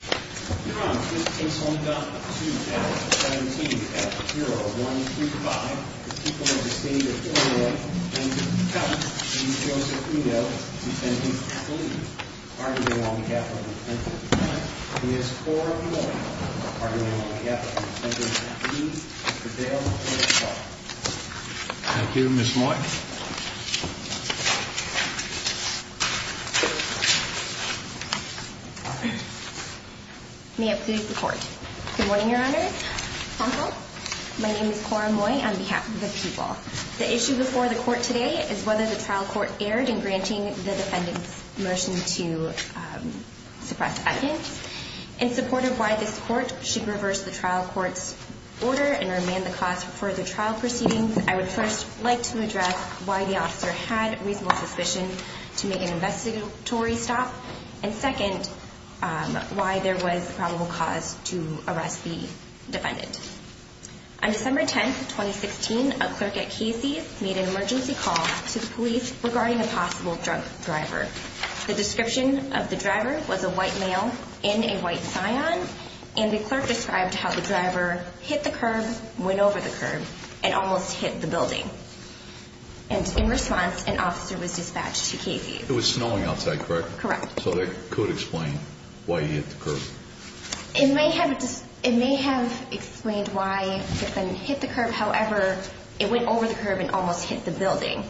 I'm proud. First up to the wall. Yes. Yep. Dale. Thank you, Miss. All right. May it please the court? Good morning, Your Honor. My name is Cora Moy on behalf of the people. The issue before the court today is whether the trial court erred in granting the defendant's motion to suppress items. In support of why this court should reverse the trial court's order and remand the cause for the trial proceedings, I would first like to address why the officer had reasonable suspicion to make an probable cause to arrest the defendant. On December 10th, 2016, a clerk at Casey's made an emergency call to the police regarding a possible drunk driver. The description of the driver was a white male in a white scion, and the clerk described how the driver hit the curb, went over the curb and almost hit the building. And in response, an officer was dispatched to Casey's. It was snowing outside, correct? Correct. So that could explain why he hit the curb. It may have explained why the defendant hit the curb. However, it went over the curb and almost hit the building.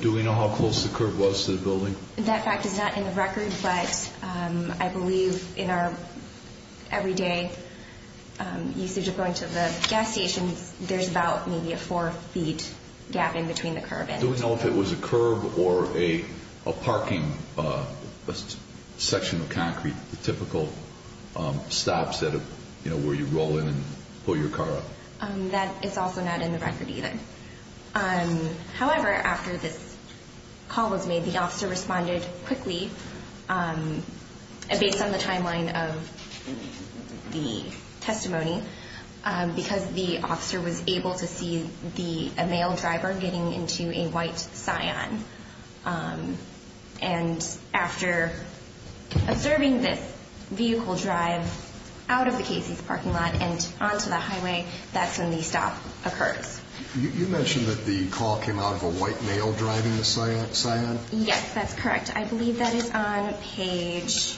Do we know how close the curb was to the building? That fact is not in the record, but I believe in our everyday usage of going to the gas station, there's about maybe a four feet gap in between the curb. Do we know if it was a curb or a parking section of concrete? Typical stops that where you roll in and pull your car up? That is also not in the record either. However, after this call was made, the officer responded quickly based on the timeline of the testimony, because the officer was able to see the male driver getting into a white scion. And after observing this vehicle drive out of the Casey's parking lot and onto the highway, that's when the stop occurs. You mentioned that the call came out of a white male driving the scion? Yes, that's correct. I believe that is on page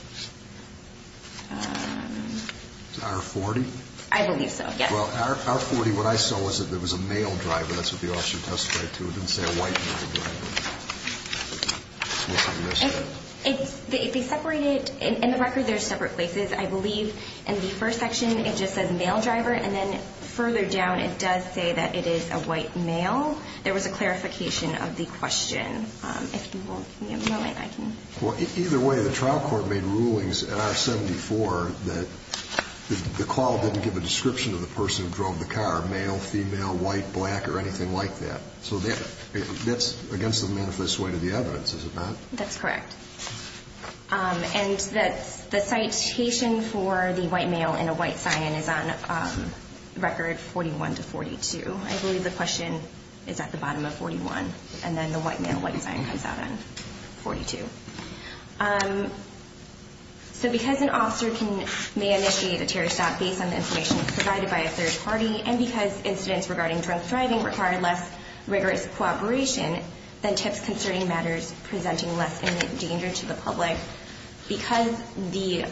our 40. I believe so. Well, our 40. What I saw was that there was a male driver. That's what the officer testified to. It didn't say a white it. They separated in the record. There's separate places, I believe. And the first section, it just says male driver. And then further down, it does say that it is a white male. There was a clarification of the question. If you will give me a moment, I can... Well, either way, the trial court made rulings in R74 that the call didn't give a description of the person who drove the car, male, female, white, black, or anything like that. So that's against the manifest way to the evidence, is it not? That's correct. And that's the citation for the white male and a white scion is on record 41 to 42. I believe the question is at the bottom of 41, and then the white male, white scion comes out on 42. So because an officer may initiate a terror stop based on the information provided by a third party, and because incidents regarding drunk driving require less rigorous cooperation than tips concerning matters presenting less imminent danger to the public, because the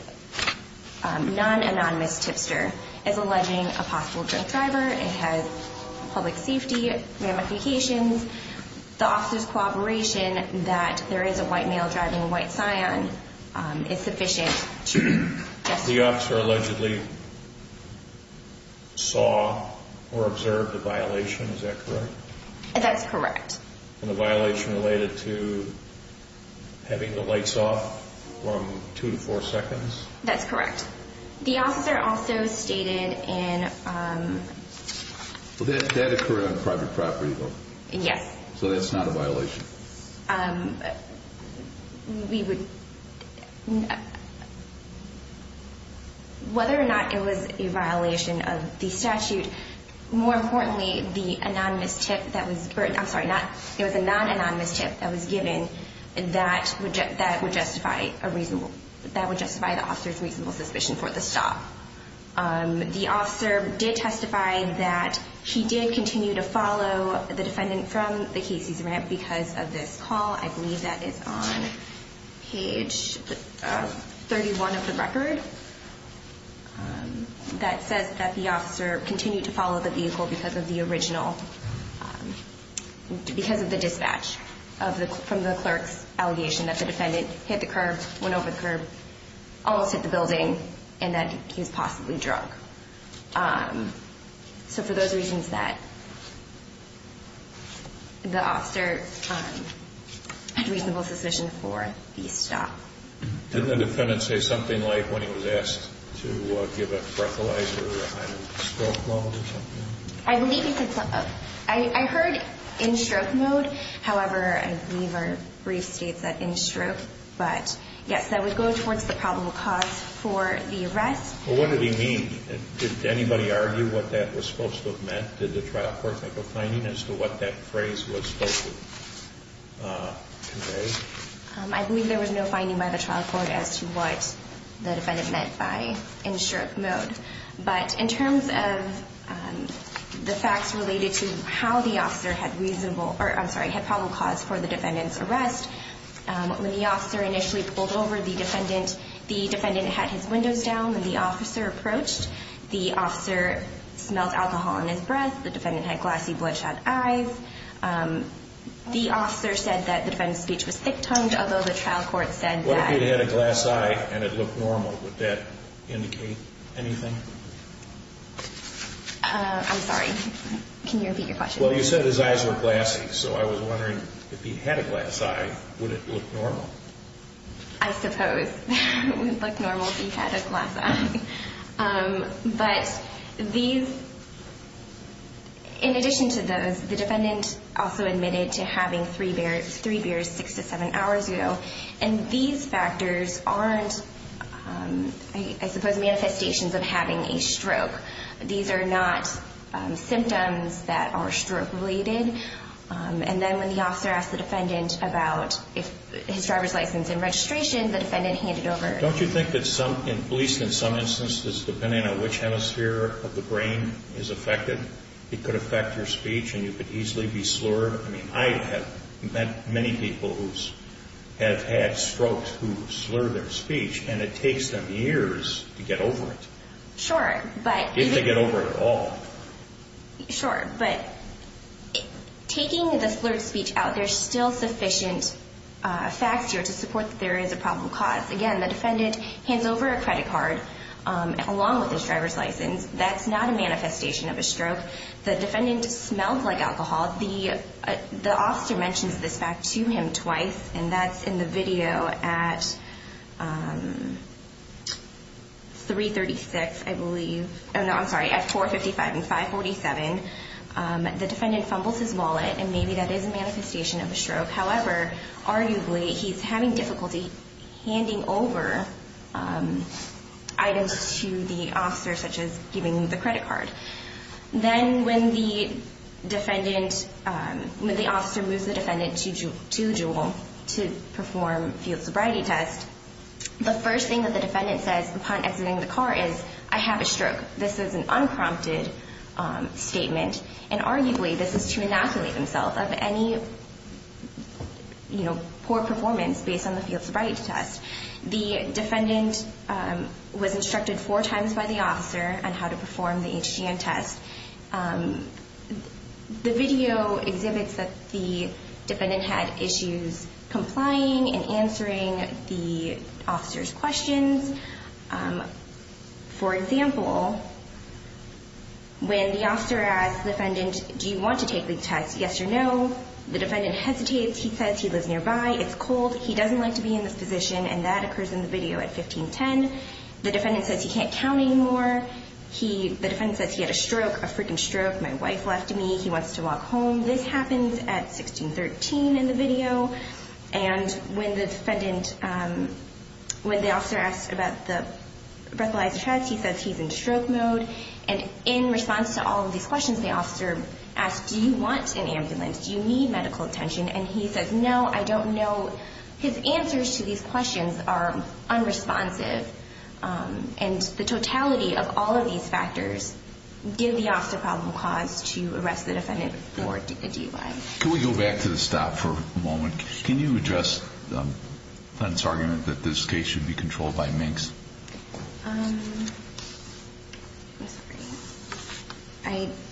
non anonymous tipster is alleging a possible drunk driver, it has public safety ramifications. The officer's cooperation that there is a white male driving a white scion is sufficient to justify... The officer allegedly saw or observed a violation, is that correct? That's correct. And the violation related to having the lights off from two to four seconds? That's correct. The officer also stated in... That occurred on private property though? Yes. So that's not a violation? Whether or not it was a violation of the statute, more importantly, the anonymous tip that was... I'm sorry, it was a non anonymous tip that was given that would justify a reasonable... That would justify the officer's reasonable suspicion for the stop. The officer did testify that he did continue to follow the defendant from the Casey's ramp because of this call. I believe that is on page 31 of the record that says that the officer continued to follow the vehicle because of the original... Because of the dispatch from the clerk's allegation that the defendant hit the curb, went over the curb, almost hit the building, and that he was possibly drunk. So for those reasons that the officer had reasonable suspicion for the stop. Didn't the defendant say something like when he was asked to give a breathalyzer in stroke mode or something? I believe he said... I heard in stroke mode, however, I believe there were brief states that in stroke, but yes, that would go towards the probable cause for the arrest. Well, what did he mean? Did anybody argue what that was supposed to have meant? Did the trial court make a finding as to what that phrase was supposed to convey? I believe there was no finding by the trial court as to what the defendant meant by in stroke mode. But in terms of the facts related to how the officer had reasonable... Or I'm sorry, had probable cause for the defendant's arrest. When the officer initially pulled over, the defendant had his windows down when the officer approached. The officer smelled alcohol in his breath. The defendant had glassy bloodshot eyes. The officer said that the defendant's speech was thick tongued, although the trial court said that... What if he'd had a glass eye and it looked normal? Would that indicate anything? I'm sorry, can you repeat your question? Well, you said his eyes were glassy, so I was wondering, if he had a glass eye, would it look normal? I suppose it would look normal if he had a glass eye. But these... In addition to those, the defendant also admitted to having three beers six to seven hours ago. And these factors aren't, I suppose, manifestations of having a stroke. These are not symptoms that are stroke related. And then when the officer asked the defendant about his driver's license and registration, the defendant handed over... Don't you think that some, at least in some instances, depending on which hemisphere of the brain is affected, it could affect your speech and you could easily be slurred? I have met many people who have had strokes who slur their speech and it takes them years to get over it. Sure, but... If they get over it at all. Sure, but taking the slurred speech out, there's still sufficient facts here to support that there is a problem caused. Again, the defendant hands over a credit card along with his driver's license. That's not a manifestation of a stroke. The defendant smelled like alcohol. The officer mentions this fact to him twice, and that's in the video at 336, I believe. No, I'm sorry, at 455 and 547. The defendant fumbles his wallet, and maybe that is a manifestation of a stroke. However, arguably, he's having difficulty handing over items to the officer, such as giving the credit card. Then when the officer moves the defendant to Jewel to perform field sobriety test, the first thing that the defendant says upon exiting the car is, I have a stroke. This is an unprompted statement, and arguably, this is to inoculate himself of any poor performance based on the field sobriety test. The defendant was instructed four times by the officer on how to perform the HGM test. The video exhibits that the defendant had issues complying and answering the officer's questions. For example, when the officer asked the defendant, do you want to take the test? Yes or no? The defendant hesitates. He says he lives nearby. It's cold. He doesn't like to be in this position, and that occurs in the video at 1510. The defendant says he can't count anymore. The defendant says he had a stroke, a freaking stroke. My wife left me. He wants to walk home. This happens at 1613 in the video. And when the defendant... When the officer asks about the breathalyzer test, he says he's in stroke mode. And in response to all of these questions, the officer asks, do you want an ambulance? Do you need medical attention? And he says, no, I don't know. His answers to these questions are unresponsive. And the totality of all of these factors give the officer a probable cause to arrest the defendant for DUI. Can we go back to the stop for a moment? Can you address the defendant's argument that this case should be controlled by Minks?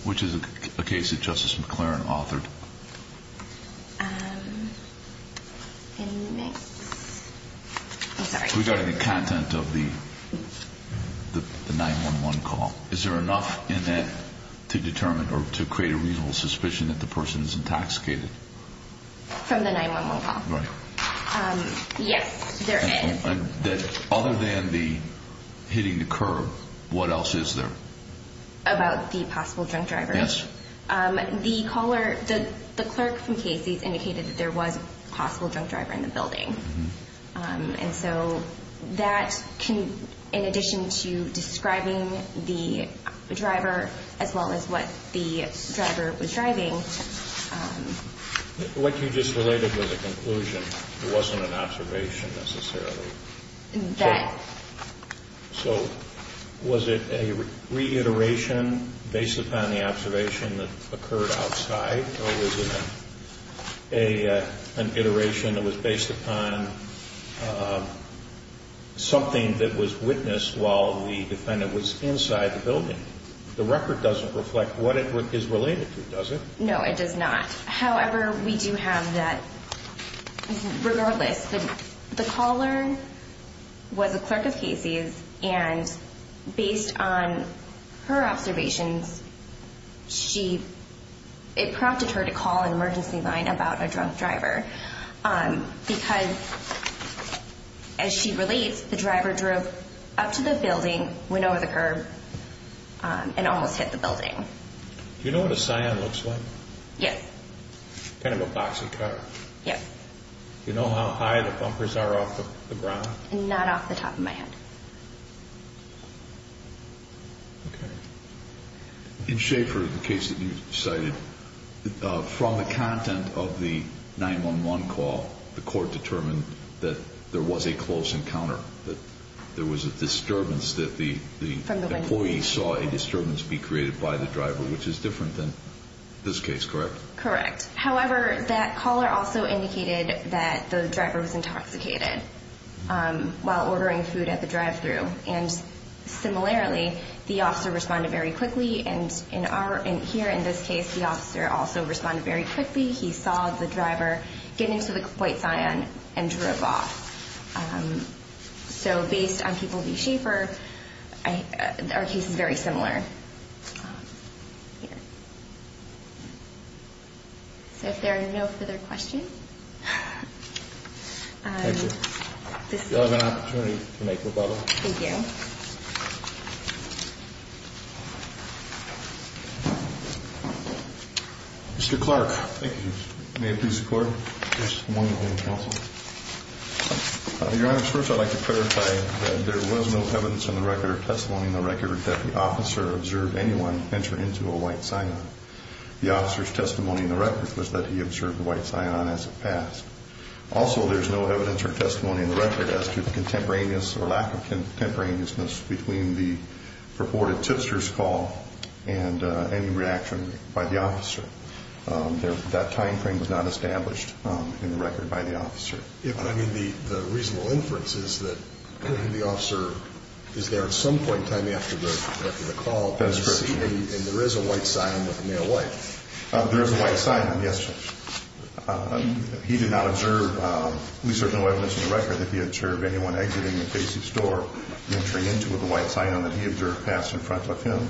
Which is a case that Justice McClaren authored. And Minks... I'm sorry. Regarding the content of the 911 call, is there enough in that to determine or to create a reasonable suspicion that the person is intoxicated? From the 911 call? Right. Yes, there is. Other than the hitting the curb, what else is there? About the possible drunk driver? Yes. The caller... The clerk from Casey's indicated that there was a possible drunk driver in the building. And so that can... In addition to describing the driver, as well as what the driver was driving... What you just related was a conclusion. It wasn't an observation, necessarily. So was it a reiteration based upon the observation that occurred outside? Or was it an iteration that was based upon something that was witnessed while the defendant was inside the building? The record doesn't reflect what it is related to, does it? No, it does not. However, we do have that... Regardless, the caller was a clerk of Casey's, and based on her observations, it prompted her to call an emergency line about a drunk driver because, as she relates, the driver drove up to the building, went over the curb, and almost hit the building. Do you know what a cyan looks like? Yes. Kind of a boxy car. Yes. Do you know how high the bumpers are off of the ground? Not off the top of my head. Okay. In Schaefer, the case that you cited, from the content of the 911 call, the court determined that there was a close encounter, that there was a disturbance that the... From the window. The employee saw a disturbance be created by the driver, which is different than this case, correct? Correct. However, that caller also indicated that the driver was intoxicated while ordering food at the drive thru. And similarly, the officer responded very quickly, and here in this case, the officer also responded very quickly. He saw the driver get into the white Cyan and drove off. So, based on people in Schaefer, our case is very similar. So, if there are no further questions... Thank you. You'll have an opportunity to make rebuttal. Thank you. Mr. Clark. Thank you, Chief. May it please the Court? Yes, the moment of your counsel. Your Honor, first I'd like to clarify that there was no evidence in the record or testimony in the record that the officer observed anyone enter into a white Cyan. The officer's testimony in the record was that he observed a white Cyan as it passed. Also, there's no evidence or testimony in the record as to the contemporaneous or lack of contemporaneousness between the purported tipster's call and any reaction by the officer. That time frame was not established in the record by the officer. I mean, the reasonable inference is that the officer is there at some point in time after the call, and there is a white Cyan with a male wife. There is a white Cyan, yes. He did not observe, at least there's no evidence in the record, that he observed anyone exiting the Casey store, entering into with a white Cyan that he observed passed in front of him.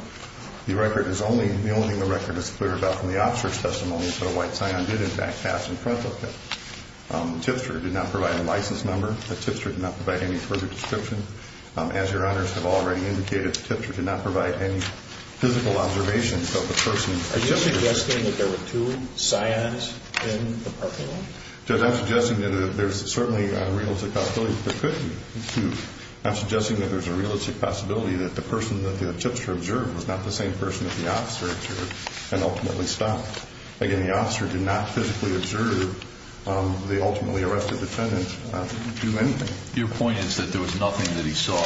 The record is only, the only thing the record is clear about from the officer's testimony is that a white Cyan did, in fact, pass in front of him. The tipster did not provide a license number. The tipster did not provide any further description. As your Honors have already indicated, the tipster did not provide any physical observations of the person. Are you suggesting that there were two Cyans in the parking lot? Judge, I'm suggesting that there's certainly a real possibility that there were two. I'm suggesting that there's a realistic possibility that the person that the tipster observed was not the same person that the officer observed and ultimately stopped. Again, the officer did not physically observe the ultimately arrested defendant do anything. Your point is that there was nothing that he saw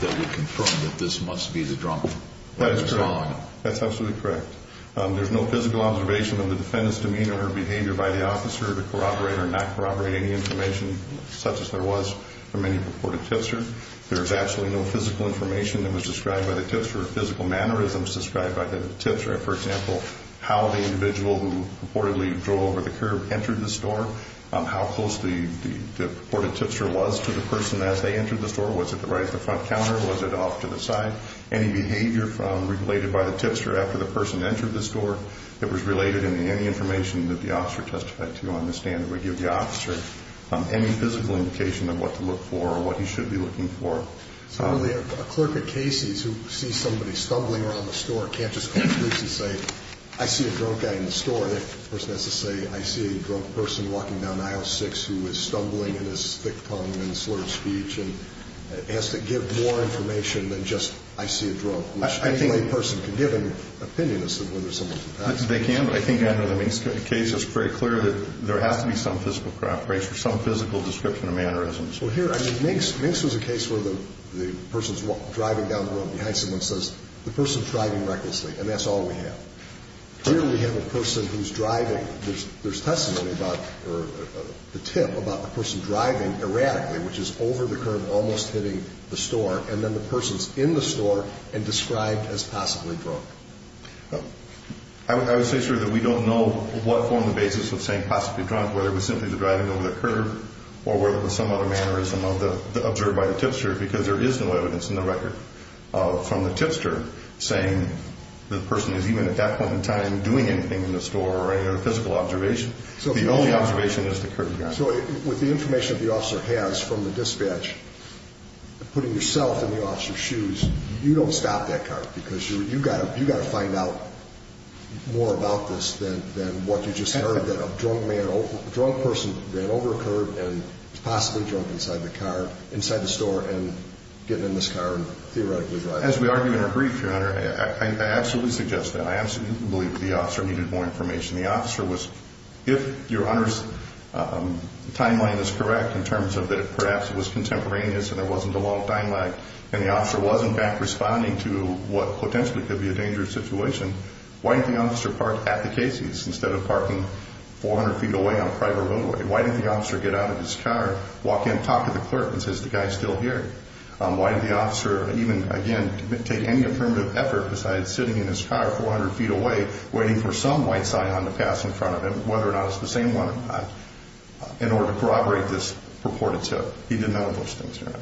that would confirm that this must be the drunk Cyan? That is correct. That's absolutely correct. There's no physical observation of the defendant's demeanor or behavior by the officer to corroborate or not any purported tipster. There's actually no physical information that was described by the tipster or physical mannerisms described by the tipster. For example, how the individual who purportedly drove over the curb entered the store, how close the purported tipster was to the person as they entered the store. Was it right at the front counter? Was it off to the side? Any behavior related by the tipster after the person entered the store that was related in any information that the officer testified to on the stand that we give the officer, any physical indication of what to look for or what he should be looking for. So really a clerk at Casey's who sees somebody stumbling around the store can't just call the police and say, I see a drunk guy in the store. The person has to say, I see a drunk person walking down aisle six who is stumbling in his thick tongue and slurred speech and has to give more information than just, I see a drunk, which I think a person can give an opinion as to whether someone's intoxicated. They can, but I think under the Main Street case, it's pretty clear that there has to be some physical corroboration or some physical description of mannerisms Well, here, I mean, Minx was a case where the person's driving down the road behind someone says, the person's driving recklessly. And that's all we have. Here we have a person who's driving. There's testimony about, or the tip about the person driving erratically, which is over the curb, almost hitting the store. And then the person's in the store and described as possibly drunk. I would say, sir, that we don't know what formed the basis of saying possibly drunk, whether it was simply the driving over the curb or whether it was some other mannerism of the observed by the tipster, because there is no evidence in the record from the tipster saying the person is even at that point in time, doing anything in the store or any other physical observation. So the only observation is the curb. So with the information that the officer has from the dispatch, putting yourself in the officer's shoes, you don't stop that car because you, you gotta, you gotta find out more about this than, than what you just heard that a drunk person ran over a curb and was possibly drunk inside the car, inside the store and getting in this car and theoretically driving. As we argue in our brief, your honor, I absolutely suggest that. I absolutely believe the officer needed more information. The officer was, if your honor's timeline is correct in terms of that, perhaps it was contemporaneous and there wasn't a lot of time lag and the officer wasn't back responding to what potentially could be a dangerous situation, why didn't the officer park at the Casey's instead of parking 400 feet away on a private roadway? Why didn't the officer get out of his car, walk in, talk to the clerk and says, the guy's still here. Why did the officer even, again, take any affirmative effort besides sitting in his car, 400 feet away, waiting for some white sign on the pass in front of him, whether or not it's the same one or not, in order to corroborate this purported tip? He didn't know those things, your honor.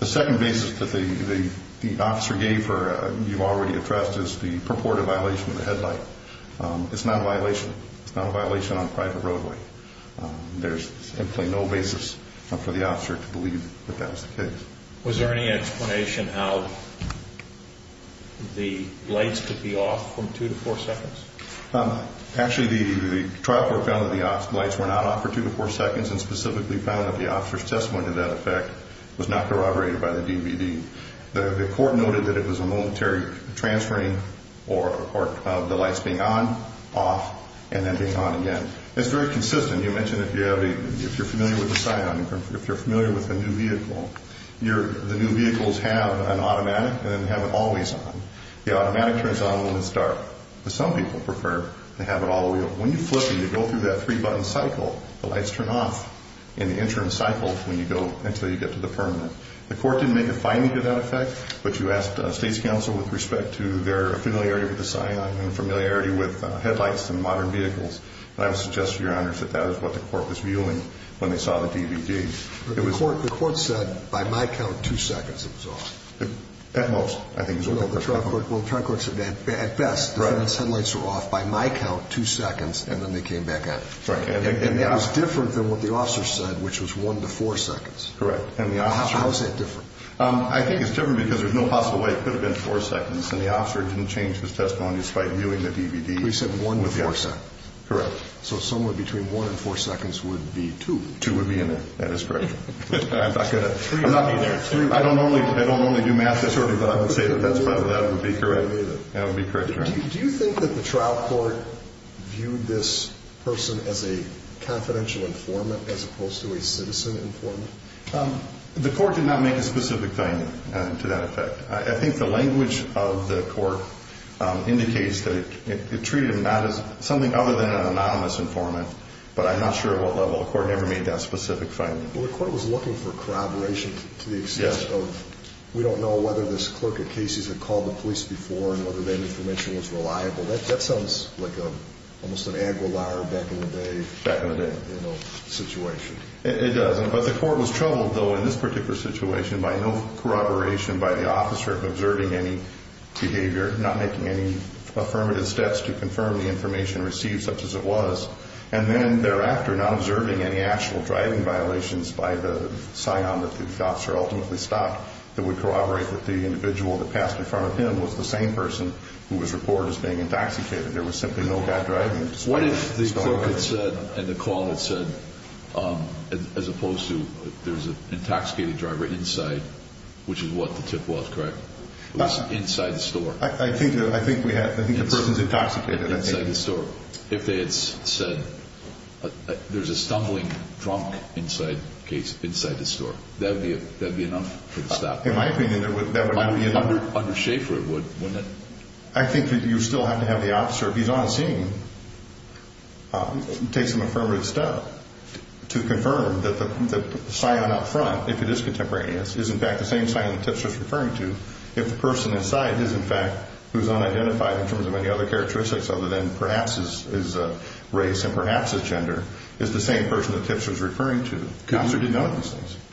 The second basis that the, the, the officer gave her, you've already addressed this, the purported violation of the headlight. It's not a violation. It's not a violation on a private roadway. There's simply no basis for the officer to believe that that was the case. Was there any explanation how the lights could be off from two to four seconds? Actually, the trial court found that the lights were not off for two to four seconds and specifically found that the officer's testimony to that effect was not corroborated by the transferring or, or the lights being on, off, and then being on again. It's very consistent. You mentioned if you have a, if you're familiar with the cyanide, if you're familiar with the new vehicle, your, the new vehicles have an automatic and then have it always on. The automatic turns on when it's dark, but some people prefer to have it all the way on. When you flip and you go through that three button cycle, the lights turn off in the interim cycle when you go until you get to the permanent. The court didn't make a finding to that effect, but you asked a state's counsel with respect to their familiarity with the cyanide and familiarity with headlights and modern vehicles. And I would suggest to your honors that that is what the court was viewing when they saw the DVD. The court, the court said, by my count, two seconds it was off. At most, I think. Well, the trial court said that at best the headlights were off by my count, two seconds, and then they came back on. And it was different than what the officer said, which was one to four seconds. Correct. And the officer. How is that different? I think it's different because there's no possible way it could have been four seconds. And the officer didn't change his testimony, despite viewing the DVD. He said one to four seconds. Correct. So somewhere between one and four seconds would be two. Two would be in there. That is correct. I'm not gonna, I'm not gonna, I don't normally, I don't normally do math this early, but I would say that that's better. That would be correct. That would be correct. Do you think that the trial court viewed this person as a citizen informant? The court did not make a specific finding to that effect. I think the language of the court indicates that it, it treated him not as something other than an anonymous informant, but I'm not sure at what level. The court never made that specific finding. Well, the court was looking for corroboration to the extent of, we don't know whether this clerk at Casey's had called the police before and whether that information was reliable. That, that sounds like a, almost an Aguilar back in the day, you know, situation. It does. But the court was troubled, though, in this particular situation by no corroboration by the officer observing any behavior, not making any affirmative steps to confirm the information received such as it was, and then thereafter not observing any actual driving violations by the psion that the officer ultimately stopped that would corroborate that the individual that passed in front of him was the same person who was reported as being intoxicated. There was simply no bad driving. What if the clerk had said, and the call had said, as opposed to, there's an intoxicated driver inside, which is what the tip was, correct? It was inside the store. I think, I think we have, I think the person's intoxicated, I think. Inside the store. If they had said, there's a stumbling drunk inside case, inside the store. That would be, that'd be enough for the stop. In my opinion, there would, that would not be enough. Under Schaefer, it would, wouldn't it? I think you still have to have the officer, if he's on scene, take some affirmative step to confirm that the psion up front, if it is contemporaneous, is in fact the same psion that Tipster's referring to. If the person inside is in fact, who's unidentified in terms of any other characteristics other than perhaps is race and perhaps is gender, is the same person that Tipster's referring to.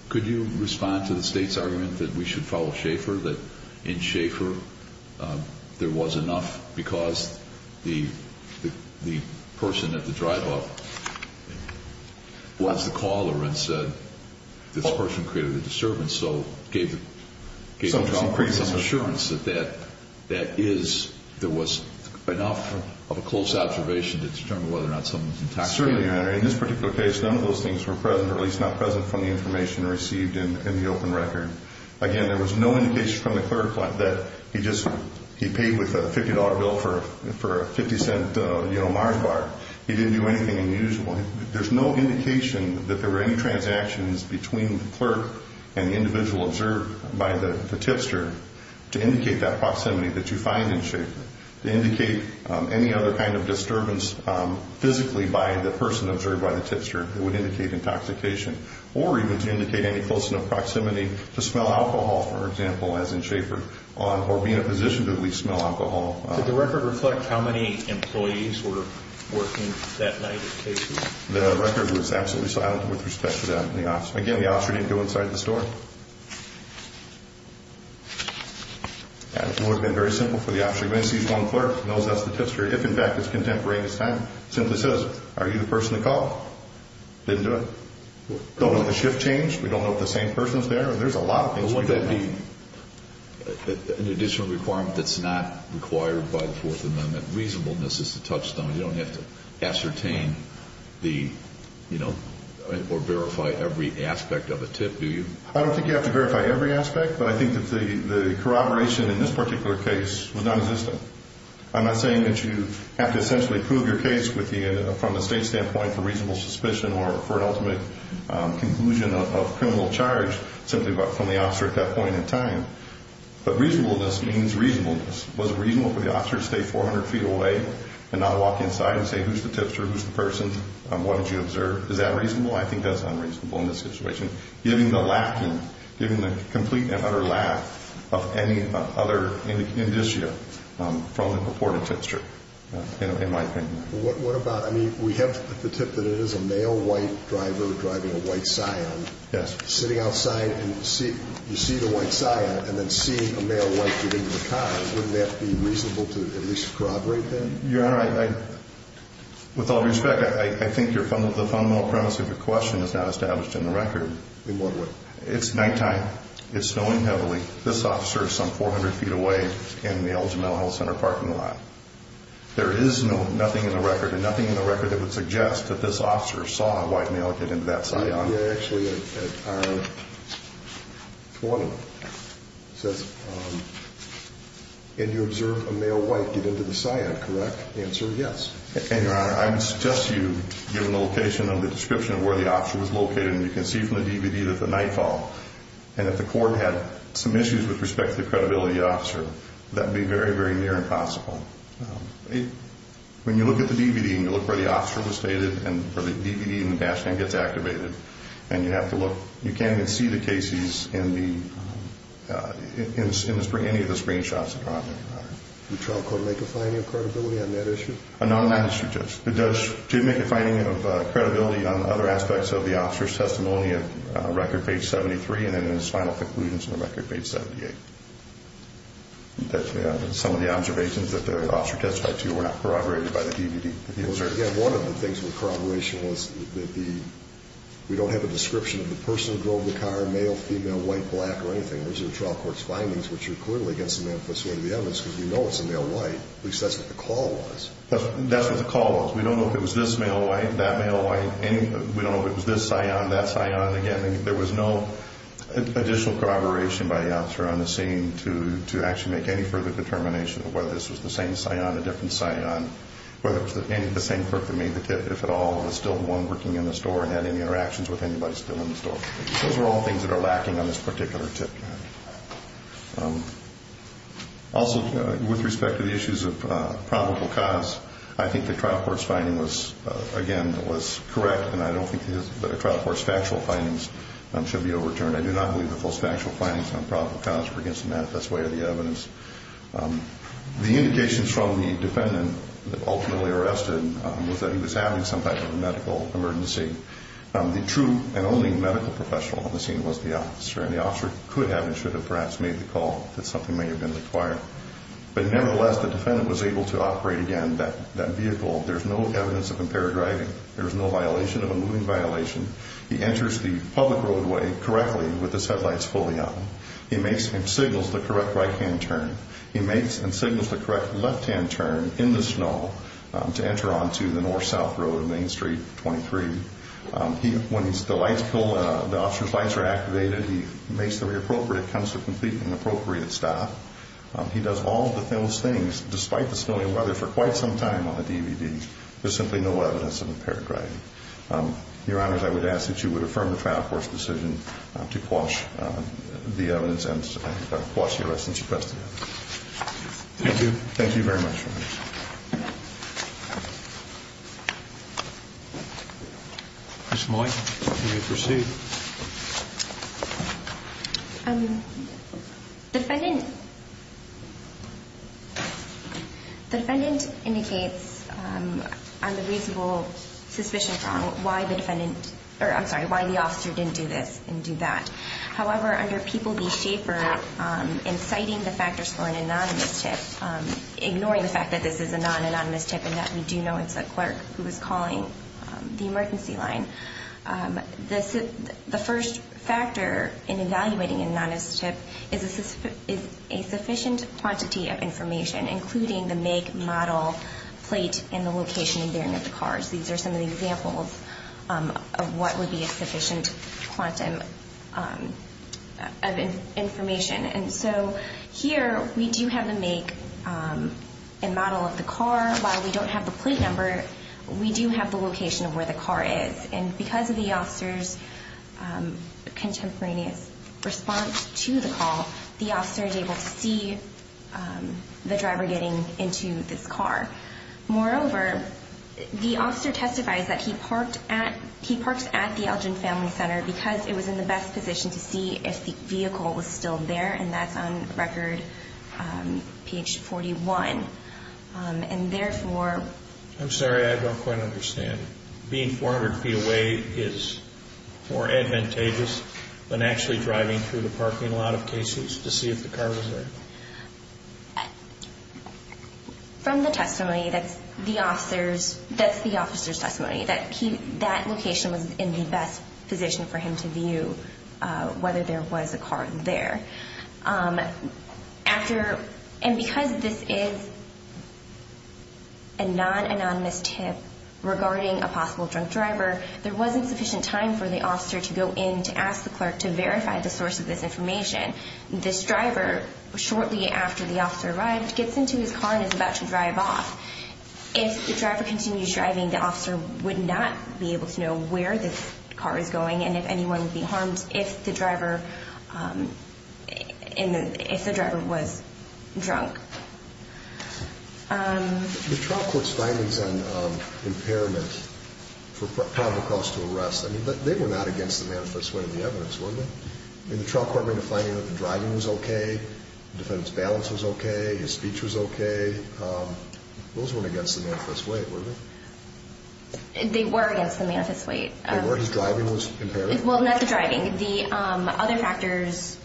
Could you respond to the State's argument that we should follow Schaefer, that in Schaefer, there was enough, because the, the person at the drive-off was the caller and said, this person created a disturbance. So, gave the, gave the drunk some assurance that that, that is, there was enough of a close observation to determine whether or not someone's intoxicated. Certainly, Your Honor. In this particular case, none of those things were present, or at least not present from the information received in, in the open record. Again, there was no indication from the clerk that he just, he paid with a $50 bill for a, for a 50-cent, you know, Mars bar. He didn't do anything unusual. There's no indication that there were any transactions between the clerk and the individual observed by the, the Tipster to indicate that proximity that you find in Schaefer, to indicate any other kind of disturbance physically by the person observed by the Tipster, there was no proximity to smell alcohol, for example, as in Schaefer, or being in a position to at least smell alcohol. Did the record reflect how many employees were working that night at Casey's? The record was absolutely silent with respect to that in the office. Again, the officer didn't go inside the store. And it would have been very simple for the officer to go in and sees one clerk, knows that's the Tipster, if in fact it's contemporary in his time, simply says, are you the person that called? Didn't do it. We don't know if the shift changed. We don't know if the same person's there. There's a lot of things we don't know. An additional requirement that's not required by the Fourth Amendment, reasonableness is the touchstone. You don't have to ascertain the, you know, or verify every aspect of a tip, do you? I don't think you have to verify every aspect, but I think that the, the corroboration in this particular case was non-existent. I'm not saying that you have to essentially prove your case with the, from a state standpoint for reasonable suspicion or for an ultimate conclusion of criminal charge simply from the officer at that point in time. But reasonableness means reasonableness. Was it reasonable for the officer to stay 400 feet away and not walk inside and say, who's the Tipster? Who's the person? What did you observe? Is that reasonable? I think that's unreasonable in this situation, given the lacking, given the complete and utter lack of any other indicia from the purported Tipster, in my opinion. Well, what about, I mean, we have the tip that it is a male white driver driving a white Scion. Yes. Sitting outside and you see the white Scion and then seeing a male white get into the car, wouldn't that be reasonable to at least corroborate then? Your Honor, I, with all respect, I think the fundamental premise of your question is now established in the record. In what way? It's nighttime, it's snowing heavily, this officer is some 400 feet away in the Elgin Mental Health Center parking lot. There is nothing in the record, and nothing in the record that would suggest that this officer saw a white male get into that Scion. Actually, it says, and you observed a male white get into the Scion, correct? Answer, yes. And, Your Honor, I would suggest to you, given the location and the description of where the officer was located, and you can see from the DVD that the night call, and if the court had some issues with respect to the credibility of the testimony, that would be very, very near impossible. When you look at the DVD and you look where the officer was stated, and where the DVD and the dash cam gets activated, and you have to look, you can't even see the cases in any of the screenshots, Your Honor. The trial could make a finding of credibility on that issue? Not on that issue, Judge. It did make a finding of credibility on other aspects of the officer's testimony on record page 73, and then his final conclusions on record page 78. Some of the observations that the officer testified to were not corroborated by the DVD. One of the things with corroboration was that we don't have a description of the person who drove the car, male, female, white, black, or anything. Those are the trial court's findings, which are clearly against the manifesto of the evidence, because we know it's a male white. At least that's what the call was. That's what the call was. We don't know if it was this male white, that male white, and we don't know if it was this cyan, that cyan. Again, there was no additional corroboration by the officer on the scene to actually make any further determination of whether this was the same cyan, a different cyan, whether it was the same clerk that made the tip, if at all, was still the one working in the store and had any interactions with anybody still in the store. Those are all things that are lacking on this particular tip. Also, with respect to the issues of probable cause, I think the trial court's finding was, again, correct, and I don't think the trial court's factual findings should be overturned. I do not believe the false factual findings on probable cause were against the manifest way of the evidence. The indications from the defendant ultimately arrested was that he was having some type of medical emergency. The true and only medical professional on the scene was the officer, and the officer could have and should have perhaps made the call if something may have been required. But nevertheless, the defendant was able to operate again that vehicle. There's no evidence of impaired driving. There was no violation of a moving violation. He enters the public roadway correctly with his headlights fully on. He makes and signals the correct right-hand turn. He makes and signals the correct left-hand turn in the snow to enter onto the north-south road, Main Street 23. When the officer's lights are activated, he makes the re-appropriate, comes to a complete and appropriate stop. He does all of those things, despite the snowy weather, for quite some time on the DVD. There's simply no evidence of impaired driving. Your Honors, I would ask that you would affirm the trial court's decision to quash the evidence and quash the arrest since you pressed the evidence. Thank you. Thank you very much, Your Honors. Ms. Moy, you may proceed. The defendant indicates on the reasonable suspicion from why the defendant, or I'm sorry, why the officer didn't do this and do that. However, under People v. Schaefer, inciting the factors for an anonymous tip, ignoring the fact that this is a non-anonymous tip and that we do know it's a clerk who is calling the emergency line. The first factor in evaluating an anonymous tip is a sufficient quantity of information, including the make, model, plate, and the location and bearing of the cars. These are some of the examples of what would be a sufficient quantity of information. And so here, we do have the make and model of the car. While we don't have the plate number, we do have the location of where the car is. And because of the officer's contemporaneous response to the call, the officer is able to see the driver getting into this car. Moreover, the officer testifies that he parked at the Elgin Family Center because it was in the best position to see if the vehicle was still there, and that's on record, page 41. And therefore— I'm sorry, I don't quite understand. Being 400 feet away is more advantageous than actually driving through the parking lot of Casey's to see if the car was there? From the testimony, that's the officer's testimony, that location was in the best position for him to view whether there was a car there. And because this is a non-anonymous tip regarding a possible drunk driver, there wasn't sufficient time for the officer to go in to ask the clerk to verify the source of this information. This driver, shortly after the officer arrived, gets into his car and is about to drive off. If the driver continues driving, the officer would not be able to know where this car is going and if anyone would be harmed if the driver was drunk. The trial court's findings on impairment for probable cause to arrest, I mean, they were not against the manifest way of the evidence, were they? I mean, the trial court made a finding that the driving was okay, the defendant's balance was okay, his speech was okay. Those weren't against the manifest way, were they? They were against the manifest way. They were? His driving was impaired? Well, not the driving. The other factors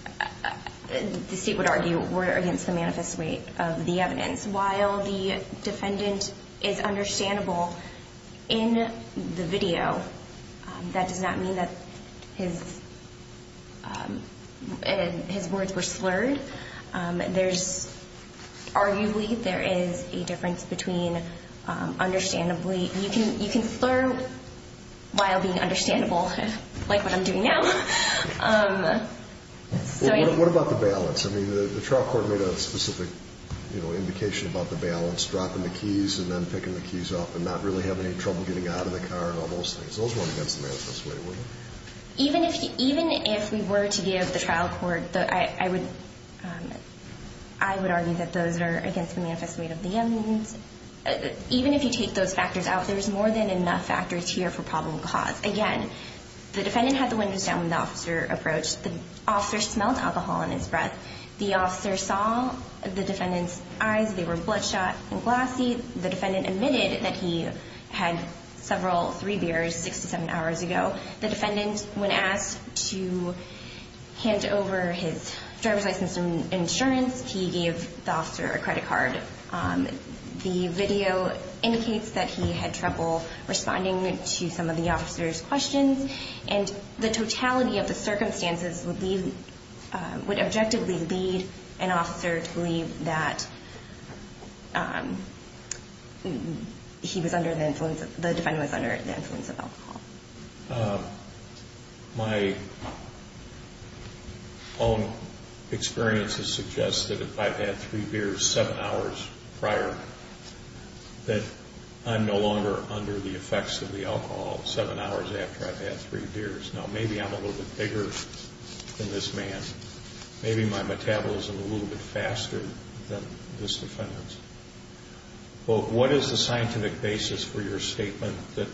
the state would argue were against the manifest way of the evidence. While the defendant is understandable in the video, that does not mean that his words were slurred. Arguably, there is a difference between understandably. You can slur while being understandable, like what I'm doing now. What about the balance? I mean, the trial court made a specific indication about the balance, dropping the keys and then picking the keys up and not really having any trouble getting out of the car and all those things. Those weren't against the manifest way, were they? Even if we were to give the trial court, I would argue that those are against the manifest way of the evidence. Even if you take those factors out, there's more than enough factors here for probable cause. Again, the defendant had the windows down when the officer approached. The officer smelled alcohol in his breath. The officer saw the defendant's eyes. They were bloodshot and glassy. The defendant admitted that he had several, three beers 67 hours ago. The defendant, when asked to hand over his driver's license and insurance, he gave the officer a credit card. The video indicates that he had trouble responding to some of the officer's questions, and the totality of the circumstances would objectively lead an officer to believe that the defendant was under the influence of alcohol. My own experiences suggest that if I've had three beers seven hours prior, that I'm no longer under the effects of the alcohol seven hours after I've had three beers. Now, maybe I'm a little bit bigger than this man. Maybe my metabolism is a little bit faster than this defendant's. But what is the scientific basis for your statement that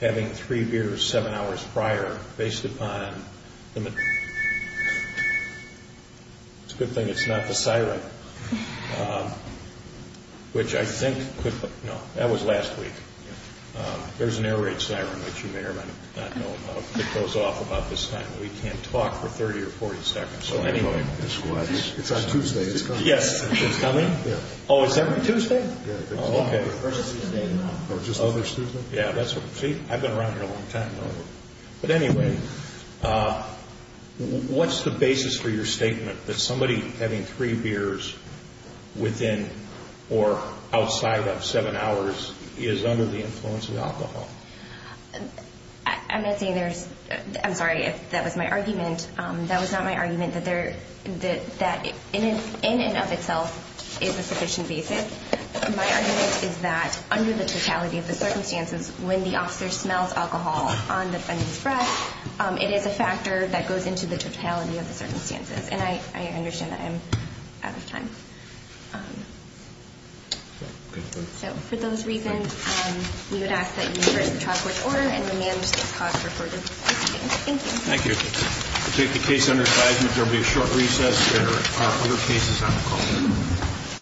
having three beers seven hours prior, based upon the... It's a good thing it's not the siren, which I think could... No, that was last week. There's an air raid siren, which you may or may not know about. It goes off about this time. We can't talk for 30 or 40 seconds. So anyway... It's on Tuesday. It's coming. Yes. It's coming? Yeah. Oh, it's every Tuesday? Yeah. Oh, okay. Versus Tuesday. Yeah. I've been around here a long time. But anyway, what's the basis for your statement that somebody having three beers within or outside of seven hours is under the influence of alcohol? I'm not saying there's... I'm sorry if that was my argument. That was not my argument, that in and of itself is a sufficient basis. My argument is that under the totality of the circumstances, when the officer smells alcohol on the defendant's breath, it is a factor that goes into the totality of the circumstances. And I understand that I'm out of time. So for those reasons, we would ask that you reverse the child court's order and remand this cause for further proceeding. Thank you. Thank you. We'll take the case under advisement. There will be a short recess. There are other cases on the call.